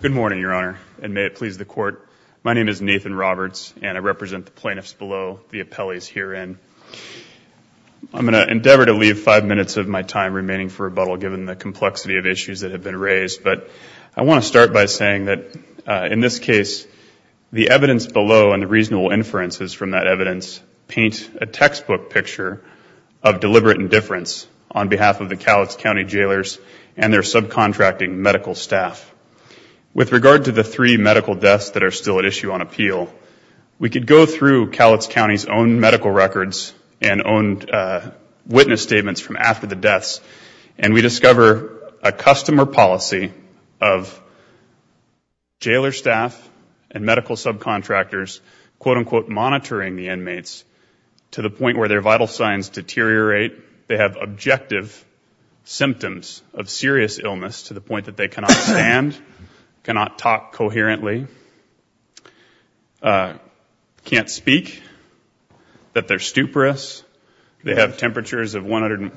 Good morning, Your Honor, and may it please the Court. My name is Nathan Roberts and I represent the plaintiffs below, the appellees herein. I'm going to endeavor to leave five minutes of my time remaining for rebuttal given the complexity of issues that have been raised, but I want to start by saying that in this case the evidence below and the reasonable inferences from that evidence paint a textbook picture of deliberate indifference on behalf of the medical staff. With regard to the three medical deaths that are still at issue on appeal, we could go through Cowlitz County's own medical records and own witness statements from after the deaths and we discover a customer policy of jailer staff and medical subcontractors quote-unquote monitoring the inmates to the point where their vital signs deteriorate, they have objective symptoms of serious illness to the point that they cannot stand, cannot talk coherently, can't speak, that they're stuporous, they have temperatures of 100 and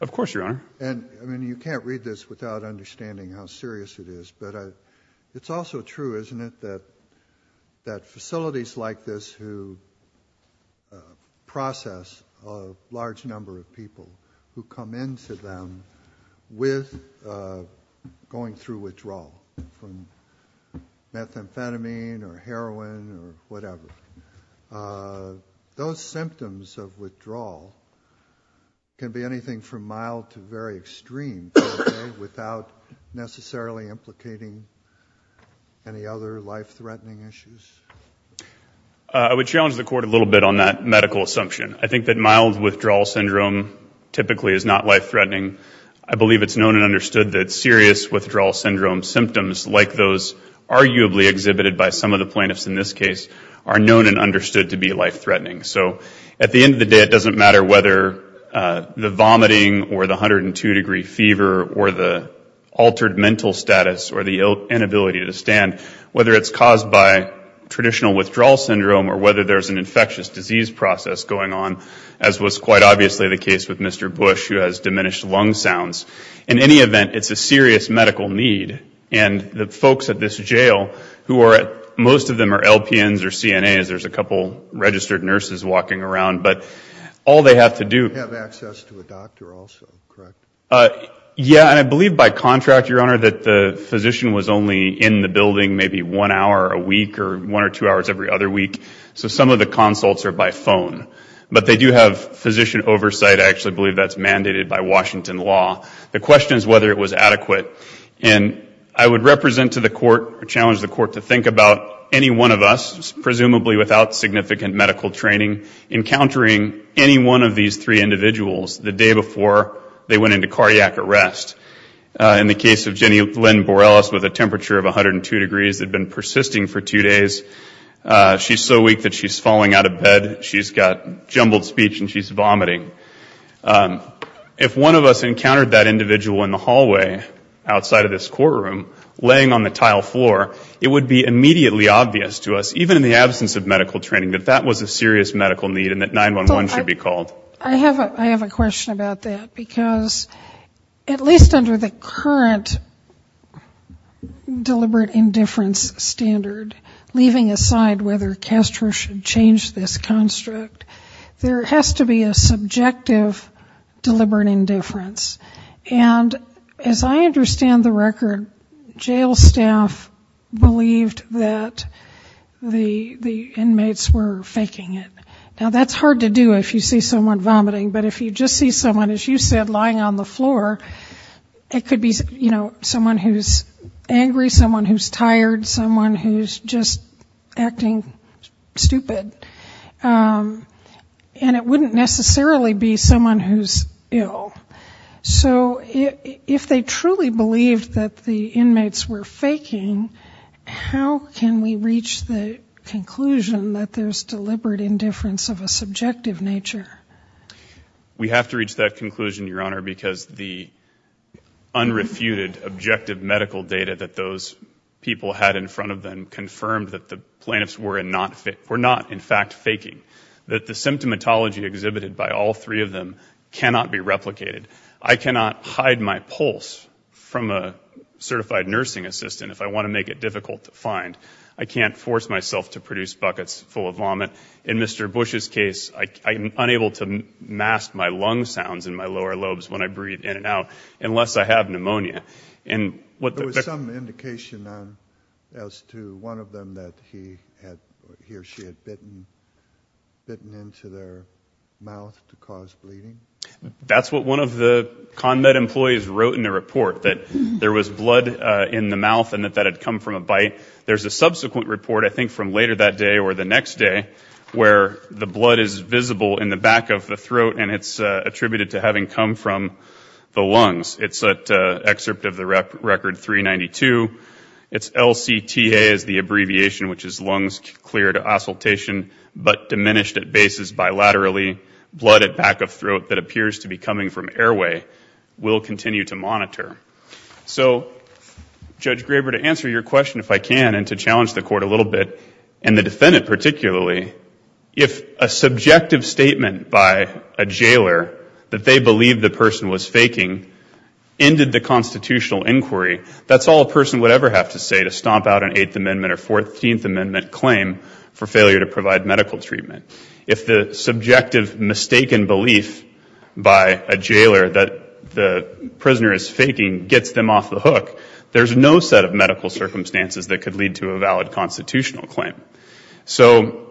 of course your honor and I mean you can't read this without understanding how serious it is but it's also true isn't it that that facilities like this who process a large number of people who come into them with going through withdrawal from methamphetamine or heroin or whatever, those symptoms of withdrawal can be anything from mild to very extreme without necessarily implicating any other life-threatening issues? I would challenge the court a little bit on that medical assumption. I think that mild withdrawal syndrome typically is not life-threatening. I believe it's known and understood that serious withdrawal syndrome symptoms like those arguably exhibited by some of the plaintiffs in this case are known and understood to be life-threatening. So at the end of the day it doesn't matter whether the vomiting or the 102 degree fever or the altered mental status or the inability to stand, whether it's caused by traditional withdrawal syndrome or whether there's an infectious disease process going on as was quite obviously the case with Mr. Bush who has diminished lung sounds. In any event it's a serious medical need and the folks at this jail who are at most of them are LPNs or CNAs, there's a couple registered nurses walking around, but all they have to do... Yeah and I believe by contract your honor that the physician was only in the building maybe one hour a week or one or two hours every other week so some of the consults are by phone, but they do have physician oversight. I actually believe that's mandated by Washington law. The question is whether it was adequate and I would represent to the court or challenge the court to think about any one of us, presumably without significant medical training, encountering any one of these three individuals the day before they went into cardiac arrest. In the case of Jenny Lynn Borelis with a temperature of 102 degrees had been persisting for two days. She's so weak that she's falling out of bed. She's got jumbled speech and she's vomiting. If one of us encountered that individual in the hallway outside of this courtroom laying on the tile floor it would be immediately obvious to us even in the absence of medical training that that was a serious medical need and that 911 should be called. I have a question about that because at least under the current deliberate indifference standard, leaving aside whether CASTRO should change this construct, there has to be a subjective deliberate indifference. And as I understand the record, jail staff believed that the inmates were faking it. Now that's hard to do if you see someone vomiting, but if you just see someone as you said lying on the floor, it could be, you know, someone who's angry, someone who's tired, someone who's just acting stupid. And it wouldn't necessarily be someone who's ill. So if they truly believed that the inmates were faking, how can we reach the conclusion that there's deliberate indifference of a subjective nature? We have to reach that conclusion, Your Honor, because the people had in front of them confirmed that the plaintiffs were not in fact faking, that the symptomatology exhibited by all three of them cannot be replicated. I cannot hide my pulse from a certified nursing assistant if I want to make it difficult to find. I can't force myself to produce buckets full of vomit. In Mr. Bush's case, I'm unable to mask my lung sounds in my lower lobes when I breathe in and out unless I have pneumonia. There was some indication as to one of them that he or she had bitten into their mouth to cause bleeding? That's what one of the ConMed employees wrote in the report, that there was blood in the mouth and that that had come from a bite. There's a subsequent report, I think from later that day or the next day, where the blood is visible in the back of the throat and it's attributed to having come from the lungs. It's an excerpt of the record 392. It's LCTA as the abbreviation, which is Lungs Clear to Assultation, but diminished at bases bilaterally. Blood at back of throat that appears to be coming from airway will continue to monitor. So, Judge Graber, to answer your question if I can and to challenge the court a little bit, and the defendant particularly, if a subjective statement by a jailer that they believe the person was faking ended the constitutional inquiry, that's all a person would ever have to say to stomp out an Eighth Amendment or Fourteenth Amendment claim for failure to provide medical treatment. If the subjective mistaken belief by a jailer that the prisoner is faking gets them off the hook, there's no set of medical circumstances that could lead to a valid constitutional claim. So,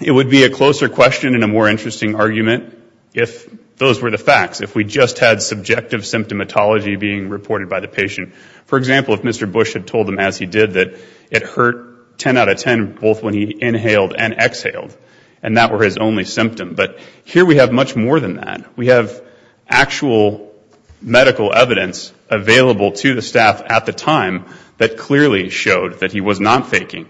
it would be a closer question and a more interesting argument if those were the facts, if we just had subjective symptomatology being reported by the patient. For example, if Mr. Bush had told them as he did that it hurt 10 out of 10, both when he inhaled and exhaled, and that were his only symptom. But here we have much more than that. We have actual medical evidence available to the staff at the time that clearly showed that he was not faking,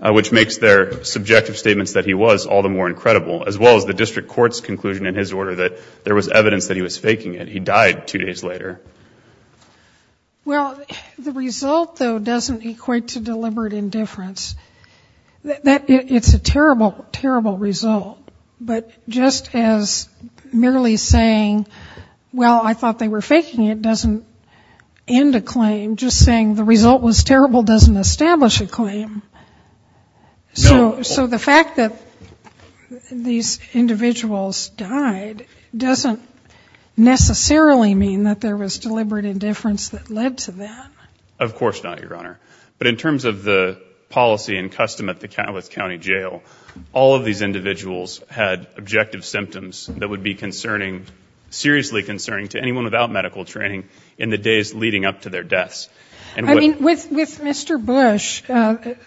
which makes their subjective statements that he was all the more incredible, as well as the district court's conclusion in his order that there was evidence that he was faking it. He died two days later. Well, the result though doesn't equate to deliberate indifference. That it's a terrible, terrible result. But just as merely saying, well I thought they were faking it, doesn't end a claim. Just saying the result was terrible doesn't establish a claim. So, the fact that these individuals died doesn't necessarily mean that there was deliberate indifference that led to that. Of course not, Your Honor. But in terms of the policy and custom at the Cowlitz County Jail, all of these individuals had objective symptoms that would be concerning, seriously concerning, to anyone without medical training in the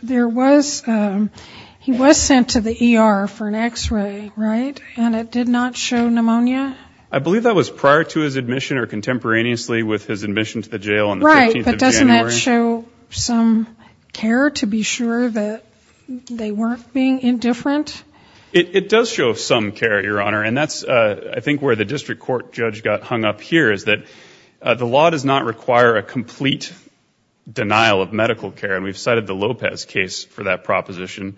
There was, he was sent to the ER for an x-ray, right? And it did not show pneumonia? I believe that was prior to his admission or contemporaneously with his admission to the jail on the 15th of January. Right, but doesn't that show some care to be sure that they weren't being indifferent? It does show some care, Your Honor, and that's I think where the district court judge got hung up here, is that the law does not require a complete denial of medical care. And we've cited the Lopez case for that proposition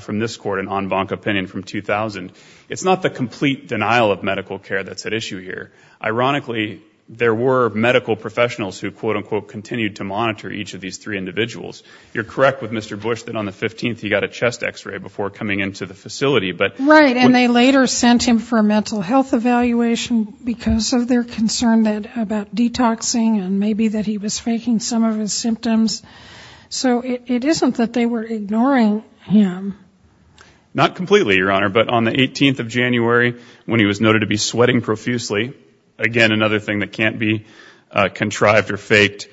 from this court, an en banc opinion from 2000. It's not the complete denial of medical care that's at issue here. Ironically, there were medical professionals who quote-unquote continued to monitor each of these three individuals. You're correct with Mr. Bush that on the 15th he got a chest x-ray before coming into the facility, but... Right, and they later sent him for a mental health evaluation because of their concern that about detoxing and maybe that he was faking some of his symptoms. So it isn't that they were ignoring him. Not completely, Your Honor, but on the 18th of January when he was noted to be sweating profusely, again another thing that can't be contrived or faked,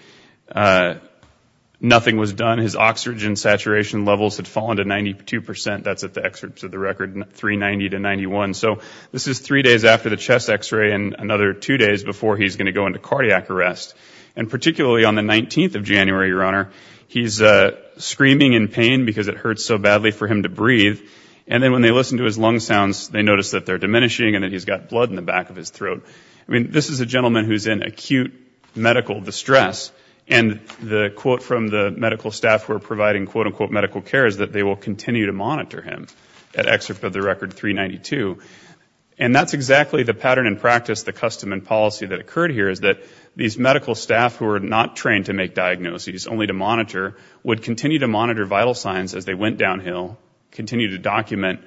nothing was done. His oxygen saturation levels had fallen to 92 percent. That's at the excerpts of the record, 390 to 91. So this is three days after the chest x-ray and another two days before he's going to go into cardiac arrest. And particularly on the 19th of January, Your Honor, he's screaming in pain because it hurts so badly for him to breathe. And then when they listen to his lung sounds, they notice that they're diminishing and that he's got blood in the back of his throat. I mean, this is a gentleman who's in acute medical distress and the quote from the medical staff who are providing quote-unquote medical care is that they will continue to monitor him at excerpt of the record 392. And that's exactly the pattern in practice, the custom and procedure, is that these medical staff who are not trained to make diagnoses, only to monitor, would continue to monitor vital signs as they went downhill, continue to document,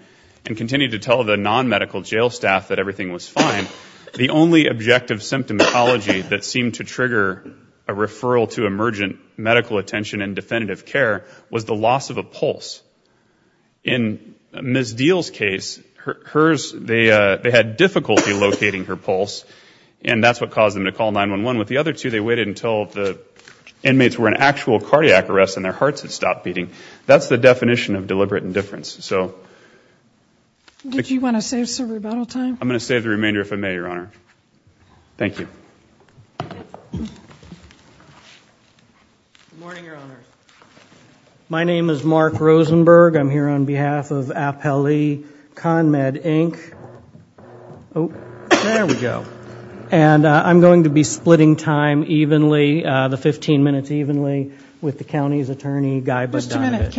and continue to tell the non-medical jail staff that everything was fine. The only objective symptomatology that seemed to trigger a referral to emergent medical attention and definitive care was the loss of a pulse. In Ms. Deal's case, they had difficulty locating her pulse and that's what caused them to call 911. With the other two, they waited until the inmates were in actual cardiac arrest and their hearts had stopped beating. That's the definition of deliberate indifference. So... Did you want to save some rebuttal time? I'm gonna save the remainder if I may, Your Honor. Thank you. My name is Mark Rosenberg. I'm here on behalf of Apelli ConMed Inc. Oh, there we go. And I'm going to be splitting time evenly, the 15 minutes evenly, with the county's attorney, Guy Bondovich. Just a minute.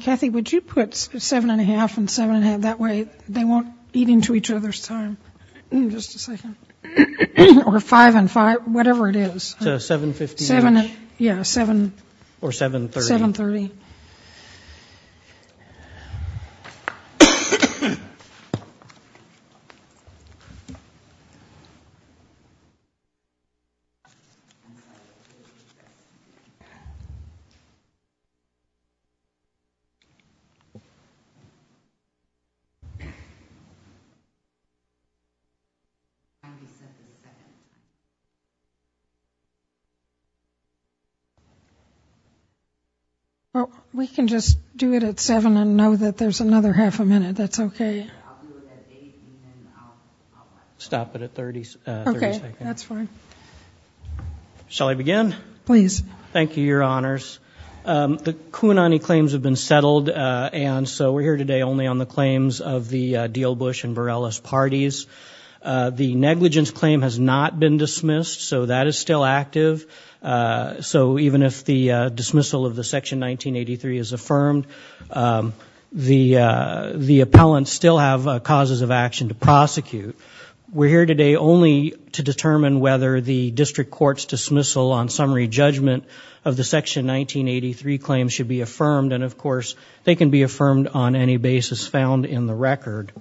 Kathy, would you put seven and a half and seven and a half? That way they won't eat into each other's time. Just a second. Or five and five, if you'd like. Well, we can just do it at seven and know that there's another half a minute. That's okay. Stop it at 30 seconds. Okay, that's fine. Shall I begin? Please. Thank you, Your Honors. The Kounani claims have been settled and so we're here today only on the claims of the Deal Bush and Bareilles parties. The negligence claim has not been dismissed, so that is still active. So even if the dismissal of the Section 1983 is affirmed, the appellants still have causes of action to prosecute. We're here today only to determine whether the district court's dismissal on summary judgment of the Section 1983 claims should be affirmed. And of course, they can be affirmed on any basis found in the record.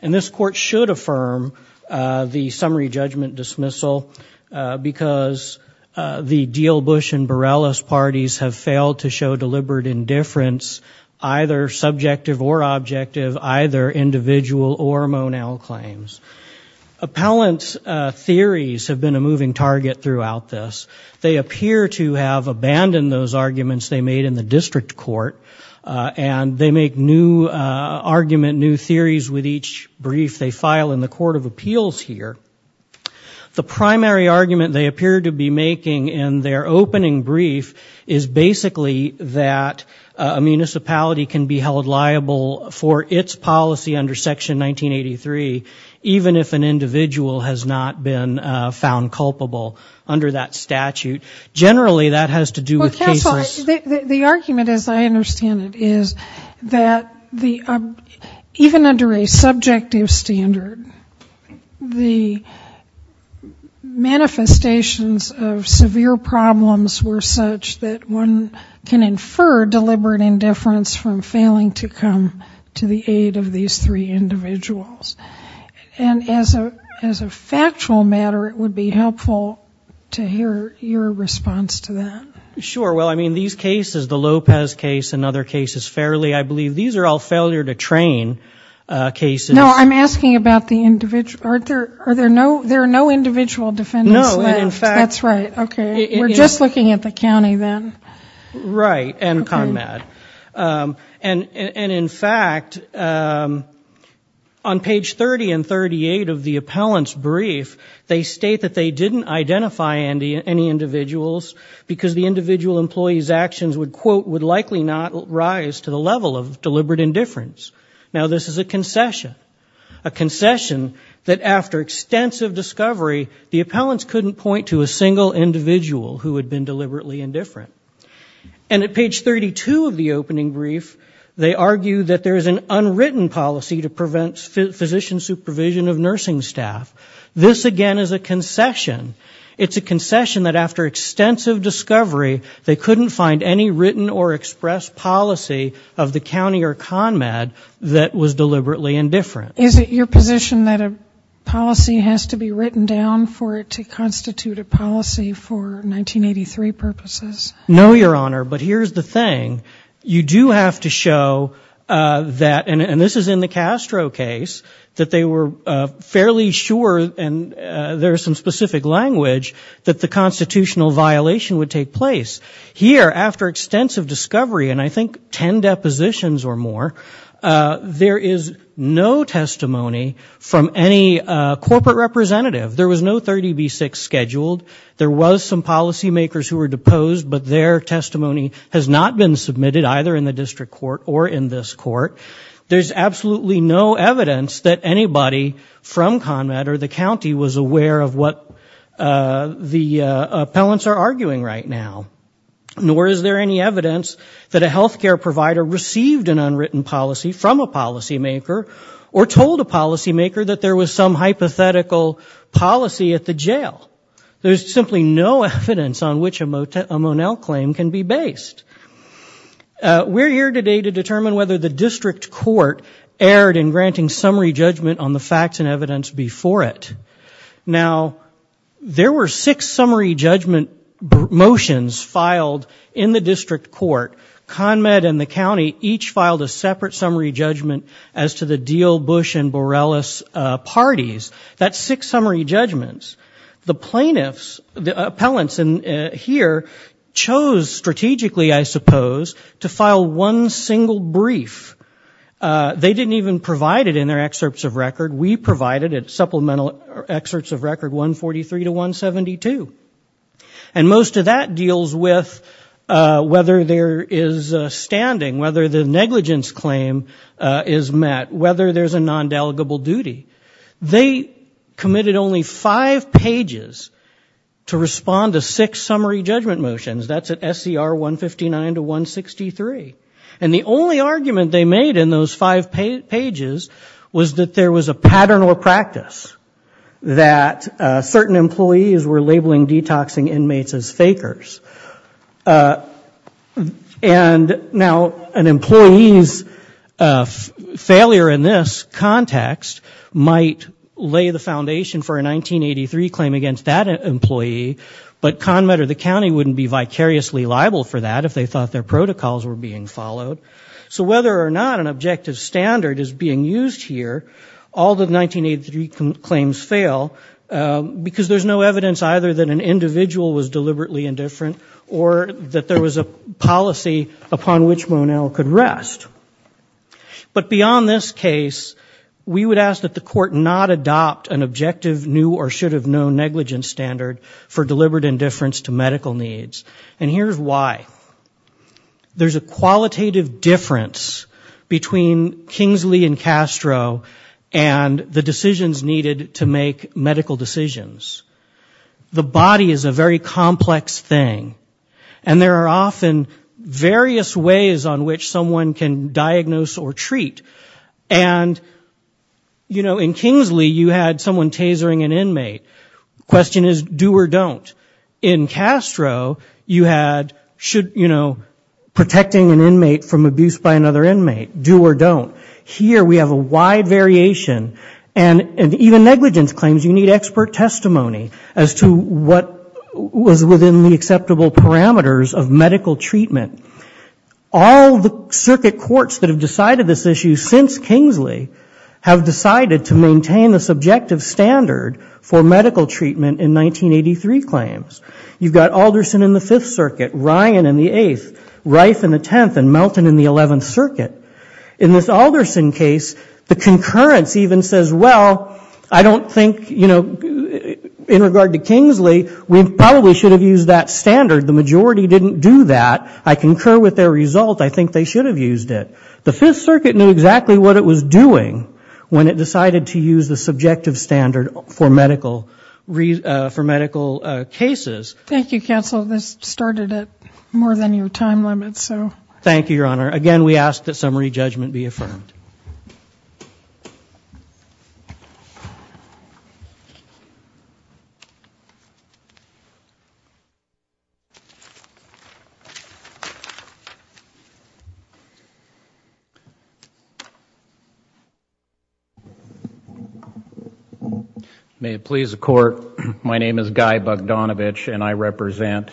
And this court should affirm the summary judgment dismissal because the Deal Bush and Bareilles parties have failed to show deliberate indifference, either subjective or objective, either individual or monal claims. Appellants' theories have been a moving target throughout this. They appear to have abandoned those arguments they made in the district court and they make new argument, new theories with each brief they make. The primary argument they appear to be making in their opening brief is basically that a municipality can be held liable for its policy under Section 1983, even if an individual has not been found culpable under that statute. Generally, that has to do with cases... Manifestations of severe problems were such that one can infer deliberate indifference from failing to come to the aid of these three individuals. And as a factual matter, it would be helpful to hear your response to that. Sure. Well, I mean, these cases, the Lopez case and other cases fairly, I believe these are all failure to train cases. No, I'm asking about the individual. There are no individual defendants left. That's right. Okay. We're just looking at the county then. Right. And CONMED. And in fact, on page 30 and 38 of the appellant's brief, they state that they didn't identify any individuals because the individual employee's actions would quote, would likely not rise to the level of deliberate indifference. Now this is a concession. A concession that after extensive discovery, the appellants couldn't point to a single individual who had been deliberately indifferent. And at page 32 of the opening brief, they argue that there is an unwritten policy to prevent physician supervision of nursing staff. This again is a concession. It's a concession that after extensive discovery, they couldn't find any written or expressed policy of the county or CONMED that was deliberately indifferent. Is it your position that a policy has to be written down for it to constitute a policy for 1983 purposes? No, Your Honor. But here's the thing. You do have to show that, and this is in the Castro case, that they were fairly sure, and there's some specific language, that the constitutional violation would take place. Here, after extensive discovery, and I think 10 depositions or more, there is no testimony from any corporate representative. There was no 30B6 scheduled. There was some policy makers who were deposed, but their testimony has not been submitted either in evidence that anybody from CONMED or the county was aware of what the appellants are arguing right now. Nor is there any evidence that a health care provider received an unwritten policy from a policy maker or told a policy maker that there was some hypothetical policy at the jail. There's simply no evidence on which a Monell claim can be based. We're here today to determine whether the district court erred in granting summary judgment on the facts and evidence before it. Now, there were six summary judgment motions filed in the district court. CONMED and the county each filed a separate summary judgment as to the Deal, Bush, and Borrellis parties. That's six summary judgments. The plaintiffs, the appellants here, chose strategically, I suppose, to file one single brief. They didn't even provide it in their excerpts of record. We provided supplemental excerpts of record 143 to 172. And most of that deals with whether there is a standing, whether the negligence claim is met, whether there's a non-delegable duty. They committed only five pages to respond to six summary judgment motions. That's at SCR 159 to 163. And the only argument they made in those five pages was that there was a pattern or practice that certain employees were labeling detoxing inmates as fakers. And now, an employee's failure in this context might lay the foundation for a 1983 claim against that employee, but CONMED or the county wouldn't be vicariously liable for that if they thought their protocols were being followed. So whether or not an objective standard is being used here, all the 1983 claims fail because there's no evidence either that an individual was deliberately indifferent or that there was a policy upon which Monell could rest. But beyond this case, we would ask that the court not adopt an objective new or should have known negligence standard for deliberate indifference to medical needs. And here's why. There's a qualitative difference between Kingsley and Castro and the decisions needed to make medical decisions. The body is a very complex thing. And there are often various ways on which someone can diagnose or treat. And, you know, in Kingsley, you had someone tasering an inmate. The question is do or don't. In Castro, you had should, you know, protecting an inmate from abuse by another inmate, do or don't. Here we have a wide variation. And even negligence claims you need expert testimony as to what was within the acceptable parameters of medical treatment. All the circuit courts that have decided this issue since Kingsley have decided to maintain the subjective standard for medical treatment in 1983 claims. You've got Alderson in the 5th Circuit, Ryan in the 8th, Reif in the 10th, and Melton in the 11th Circuit. In this Alderson case, the concurrence even says, well, I don't think, you know, in regard to Kingsley, we probably should have used that standard. The majority didn't do that. I concur with their result. I think they should have used it. The 5th Circuit knew exactly what it was doing when it decided to use the subjective standard for medical cases. Thank you, counsel. This started at more than your time limit, so. Thank you, Your Honor. Again, we ask that summary judgment be affirmed. May it please the Court. My name is Guy Bogdanovich and I represent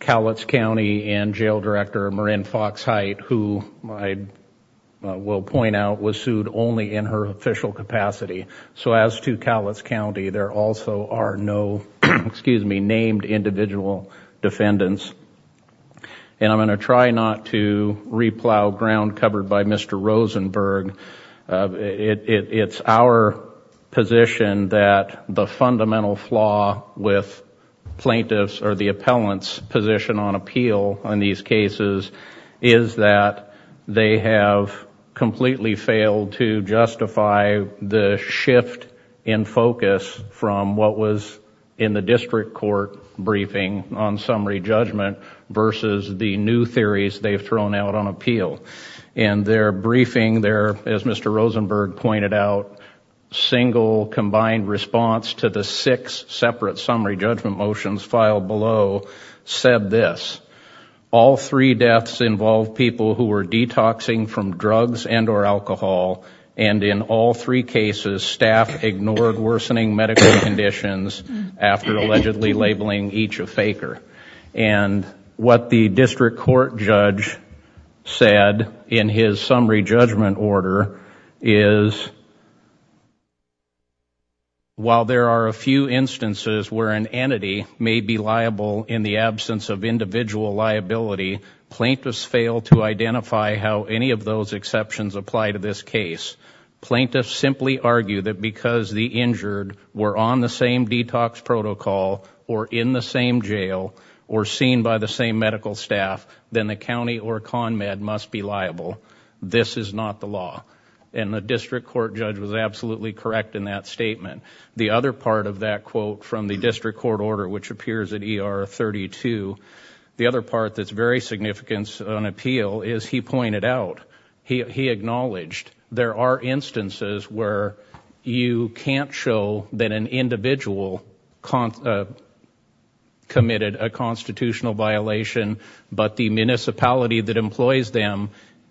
Cowlitz County and Jail Director Marin Fox-Hight, who I will point out was sued only in her official capacity. So as to Cowlitz County, there also are no named individual defendants. And I'm going to try not to re-plow ground covered by Mr. Rosenberg. It's our position that the fundamental flaw with plaintiffs or the appellant's position on appeal on these cases is that they have completely failed to justify the shift in focus from what was in the district court briefing on summary judgment versus the new theories they've thrown out on appeal. In their briefing, as Mr. Rosenberg pointed out, single combined response to the six separate summary judgment motions filed below said this, all three deaths involved people who were detoxing from drugs and or alcohol, and in all three cases, staff ignored worsening medical conditions after allegedly labeling each a faker. And what the district court judge said in his summary judgment order is, while there are a few instances where an entity may be liable in the absence of individual liability, plaintiffs fail to identify how any of those exceptions apply to this case. Plaintiffs simply argue that because the injured were on the same detox protocol or in the same jail or seen by the same medical staff, then the county or CONMED must be liable. This is not the law. And the district court judge was absolutely correct in that statement. The other part of that quote from the district court order, which appears at ER 32, the other part that's very significant on appeal, is he pointed out, he acknowledged, there are but the municipality that employs them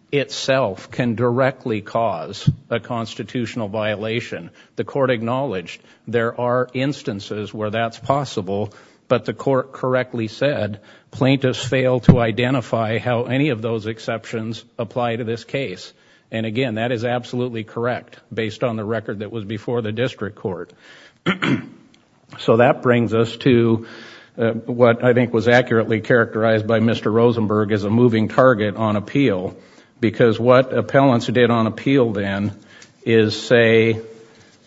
itself can directly cause a constitutional violation. The court acknowledged there are instances where that's possible, but the court correctly said plaintiffs fail to identify how any of those exceptions apply to this case. And again, that is absolutely correct based on the record that was before the district court. So that brings us to what I think was accurately characterized by Mr. Rosenberg as a moving target on appeal, because what appellants did on appeal then is say,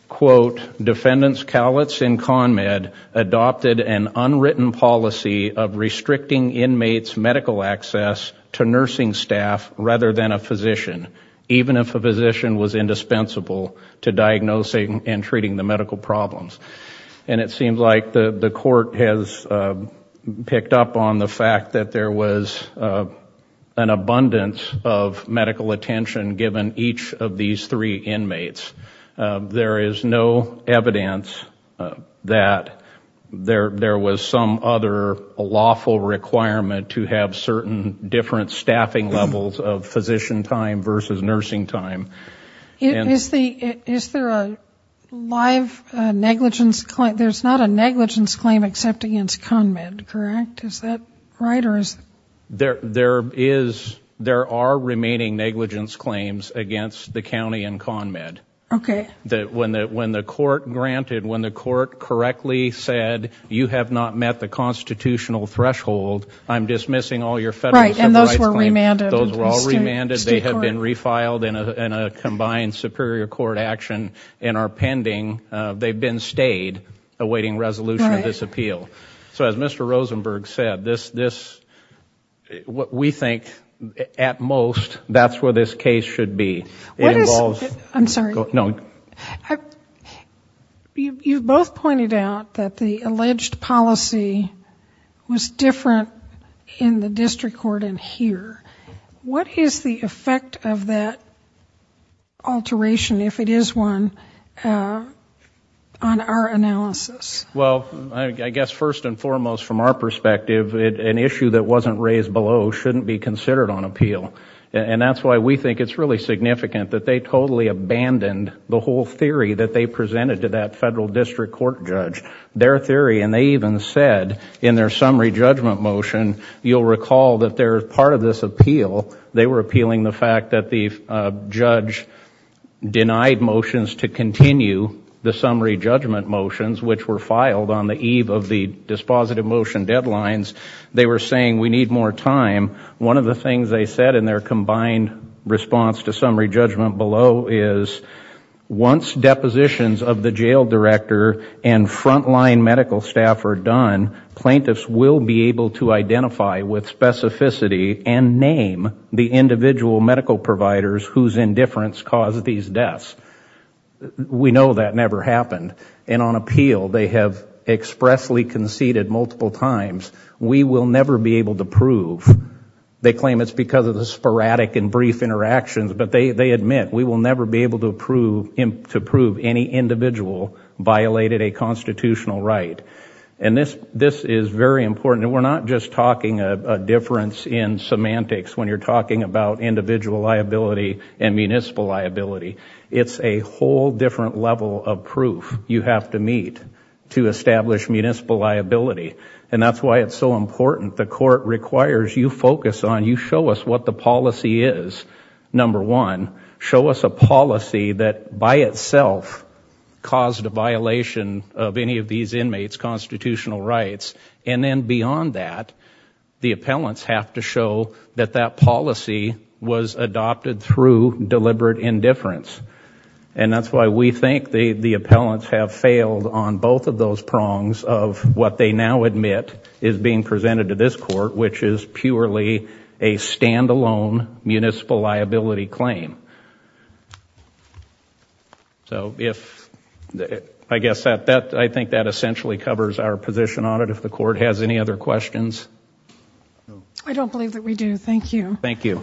quote, defendants callots in CONMED adopted an unwritten policy of restricting inmates' medical access to nursing staff rather than a physician, even if a physician was indispensable to diagnosing and treating the medical problems. And it seems like the court has picked up on the fact that there was an abundance of medical attention given each of these three inmates. There is no evidence that there was some other lawful requirement to have certain different staffing levels of physician time versus nursing time. Is there a live negligence claim? There's not a negligence claim except against CONMED, correct? Is that right? There is. There are remaining negligence claims against the county and CONMED. Okay. That when the court granted, when the court correctly said, you have not met the constitutional threshold, I'm dismissing all your federal civil rights claims. Those were all remanded. Those were all remanded. They have been refiled in a combined superior court action and are pending. They've been stayed awaiting resolution of this appeal. So as Mr. Rosenberg said, this, what we think at most, that's where this case should be. It involves... What is... I'm sorry. No. You've both pointed out that the alleged policy was different in the district court and here. What is the effect of that alteration, if it is one, on our analysis? Well, I guess first and foremost from our perspective, an issue that wasn't raised below shouldn't be considered on appeal. And that's why we think it's really significant that they totally abandoned the whole theory that they presented to that federal district court judge. Their theory, and they even said in their summary judgment motion, you'll recall that they're part of this appeal. They were appealing the fact that the judge denied motions to continue the summary judgment motions, which were filed on the eve of the dispositive motion deadlines. They were saying, we need more time. One of the things they said in their combined response to summary judgment below is, once depositions of the jail director and frontline medical staff are done, plaintiffs will be able to identify with specificity and name the individual medical providers whose indifference caused these deaths. We know that never happened. And on appeal, they have expressly conceded multiple times, we will never be able to prove. They claim it's because of the sporadic and brief interactions, but they admit, we will never be able to prove any individual violated a constitutional right. And this is very important. We're not just talking a difference in semantics when you're talking about individual liability and municipal liability. It's a whole different level of proof you have to meet to establish municipal liability. And that's why it's so important. The court requires you focus on, you show us what the policy is. Number one, show us a policy that by itself caused a violation of any of these inmates' constitutional rights. And then beyond that, the appellants have to show that that policy was adopted through deliberate indifference. And that's why we think the appellants have failed on both of those prongs of what they now admit is being presented to this court, which is purely a stand-alone municipal liability claim. So if, I guess that, I think that essentially covers our position on it. If the court has any other questions. I don't believe that we do. Thank you. Thank you.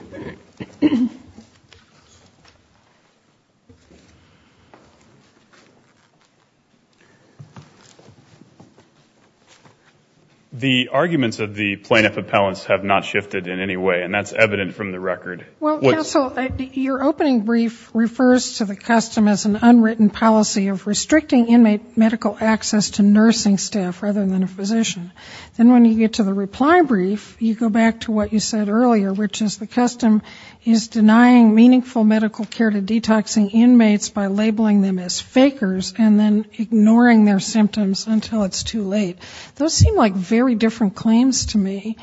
The arguments of the plaintiff appellants have not shifted in any way. And that's evident from the record. Well, counsel, your opening brief refers to the custom as an unwritten policy of restricting inmate medical access to nursing staff rather than a physician. Then when you get to the reply brief, you go back to what you said earlier, which is the custom is denying meaningful medical care to detoxing inmates by labeling them as fakers and then ignoring their symptoms until it's too late. Those seem like very different claims to me.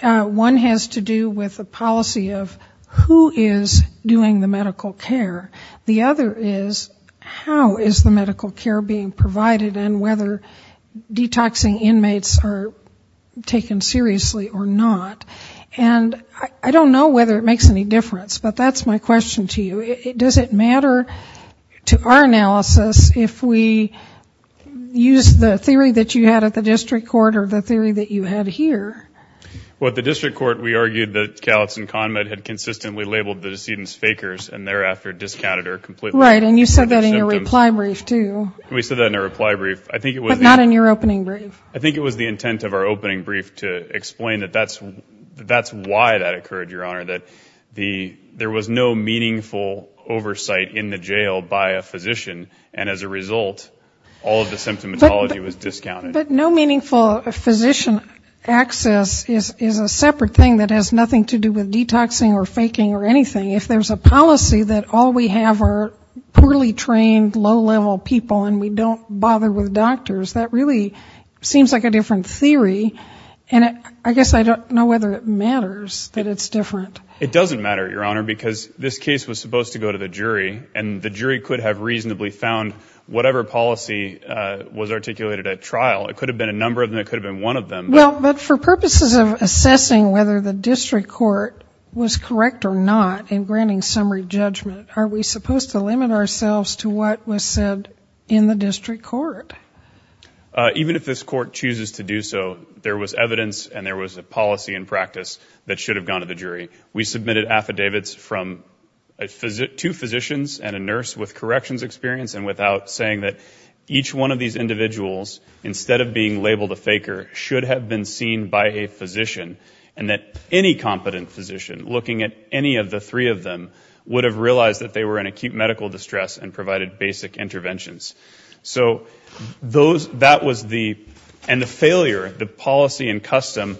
One has to do with the policy of who is doing the medical care. The other is how is the medical care being provided and whether detoxing inmates are taken seriously or not. And I don't know whether it makes any difference. But that's my question to you. Does it matter to our analysis if we use the theory that you had at the district court or the theory that you had here? Well, at the district court, we argued that Kalitz and Conrad had consistently labeled the decedents fakers and thereafter discounted or completely ignored their symptoms. Right. And you said that in your reply brief, too. We said that in our reply brief. I think it was the... But not in your opening brief. I think it was the intent of our opening brief to explain that that's why that occurred, Your Honor, that there was no meaningful oversight in the jail by a physician. And as a result, all of the symptomatology was discounted. But no meaningful physician access is a separate thing that has nothing to do with detoxing or faking or anything. If there's a policy that all we have are poorly trained, low-level people and we don't bother with doctors, that really seems like a different theory. And I guess I don't know whether it matters that it's different. It doesn't matter, Your Honor, because this case was supposed to go to the jury and the jury could have reasonably found whatever policy was articulated at trial. It could have been a number of them. It could have been one of them. Well, but for purposes of assessing whether the district court was correct or not in granting summary judgment, are we supposed to limit ourselves to what was said in the district court? Even if this court chooses to do so, there was evidence and there was a policy in practice that should have gone to the jury. We submitted affidavits from two physicians and a nurse with corrections experience and without saying that each one of these individuals, instead of being labeled a faker, should have been seen by a physician and that any competent physician, looking at any of the three of them, would have realized that they were in acute medical distress and provided basic interventions. So that was the, and the failure, the policy and custom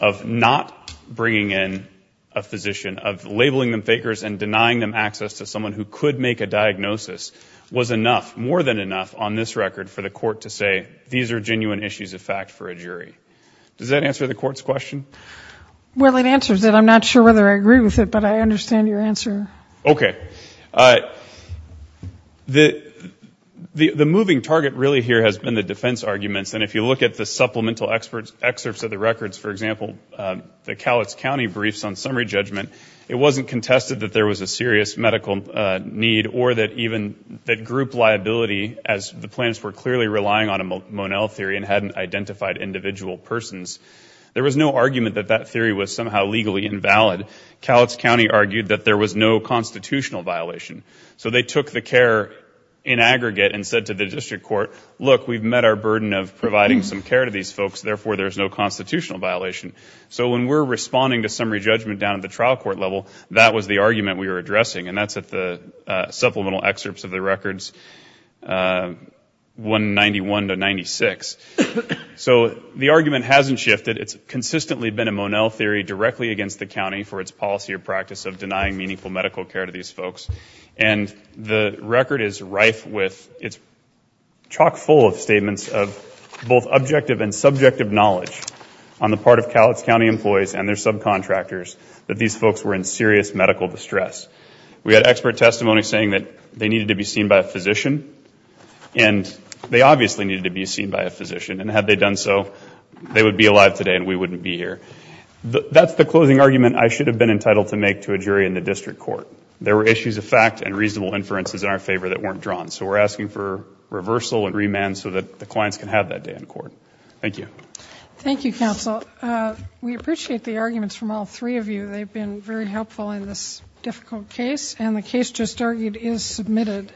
of not bringing in a physician, of labeling them fakers and denying them access to someone who could make a diagnosis, was enough, more than enough, on this record for the court to say, these are genuine issues of fact for a jury. Does that answer the court's question? Well, it answers it. I'm not sure whether I agree with it, but I understand your answer. Okay. The moving target really here has been the defense arguments and if you look at the supplemental excerpts of the records, for example, the Cowlitz County briefs on summary judgment, it wasn't contested that there was a serious medical need or that even that group liability as the plans were clearly relying on a Monell theory and hadn't identified individual persons. There was no argument that that theory was somehow legally invalid. Cowlitz County argued that there was no constitutional violation. So they took the care in aggregate and said to the district court, look, we've met our burden of providing some care to these folks, therefore there's no constitutional violation. So when we're responding to summary judgment down at the trial court level, that was the argument we were addressing and that's at the supplemental excerpts of the records, 191 to 96. So the argument hasn't shifted. It's consistently been a Monell theory directly against the denying meaningful medical care to these folks. And the record is rife with, it's chock full of statements of both objective and subjective knowledge on the part of Cowlitz County employees and their subcontractors that these folks were in serious medical distress. We had expert testimony saying that they needed to be seen by a physician and they obviously needed to be seen by a physician and had they done so, they would be alive today and we wouldn't be here. That's the closing argument I should have been entitled to make to a jury in the district court. There were issues of fact and reasonable inferences in our favor that weren't drawn. So we're asking for reversal and remand so that the clients can have that day in court. Thank you. Thank you, counsel. We appreciate the arguments from all three of you. They've been very helpful in this difficult case and the case just argued is submitted.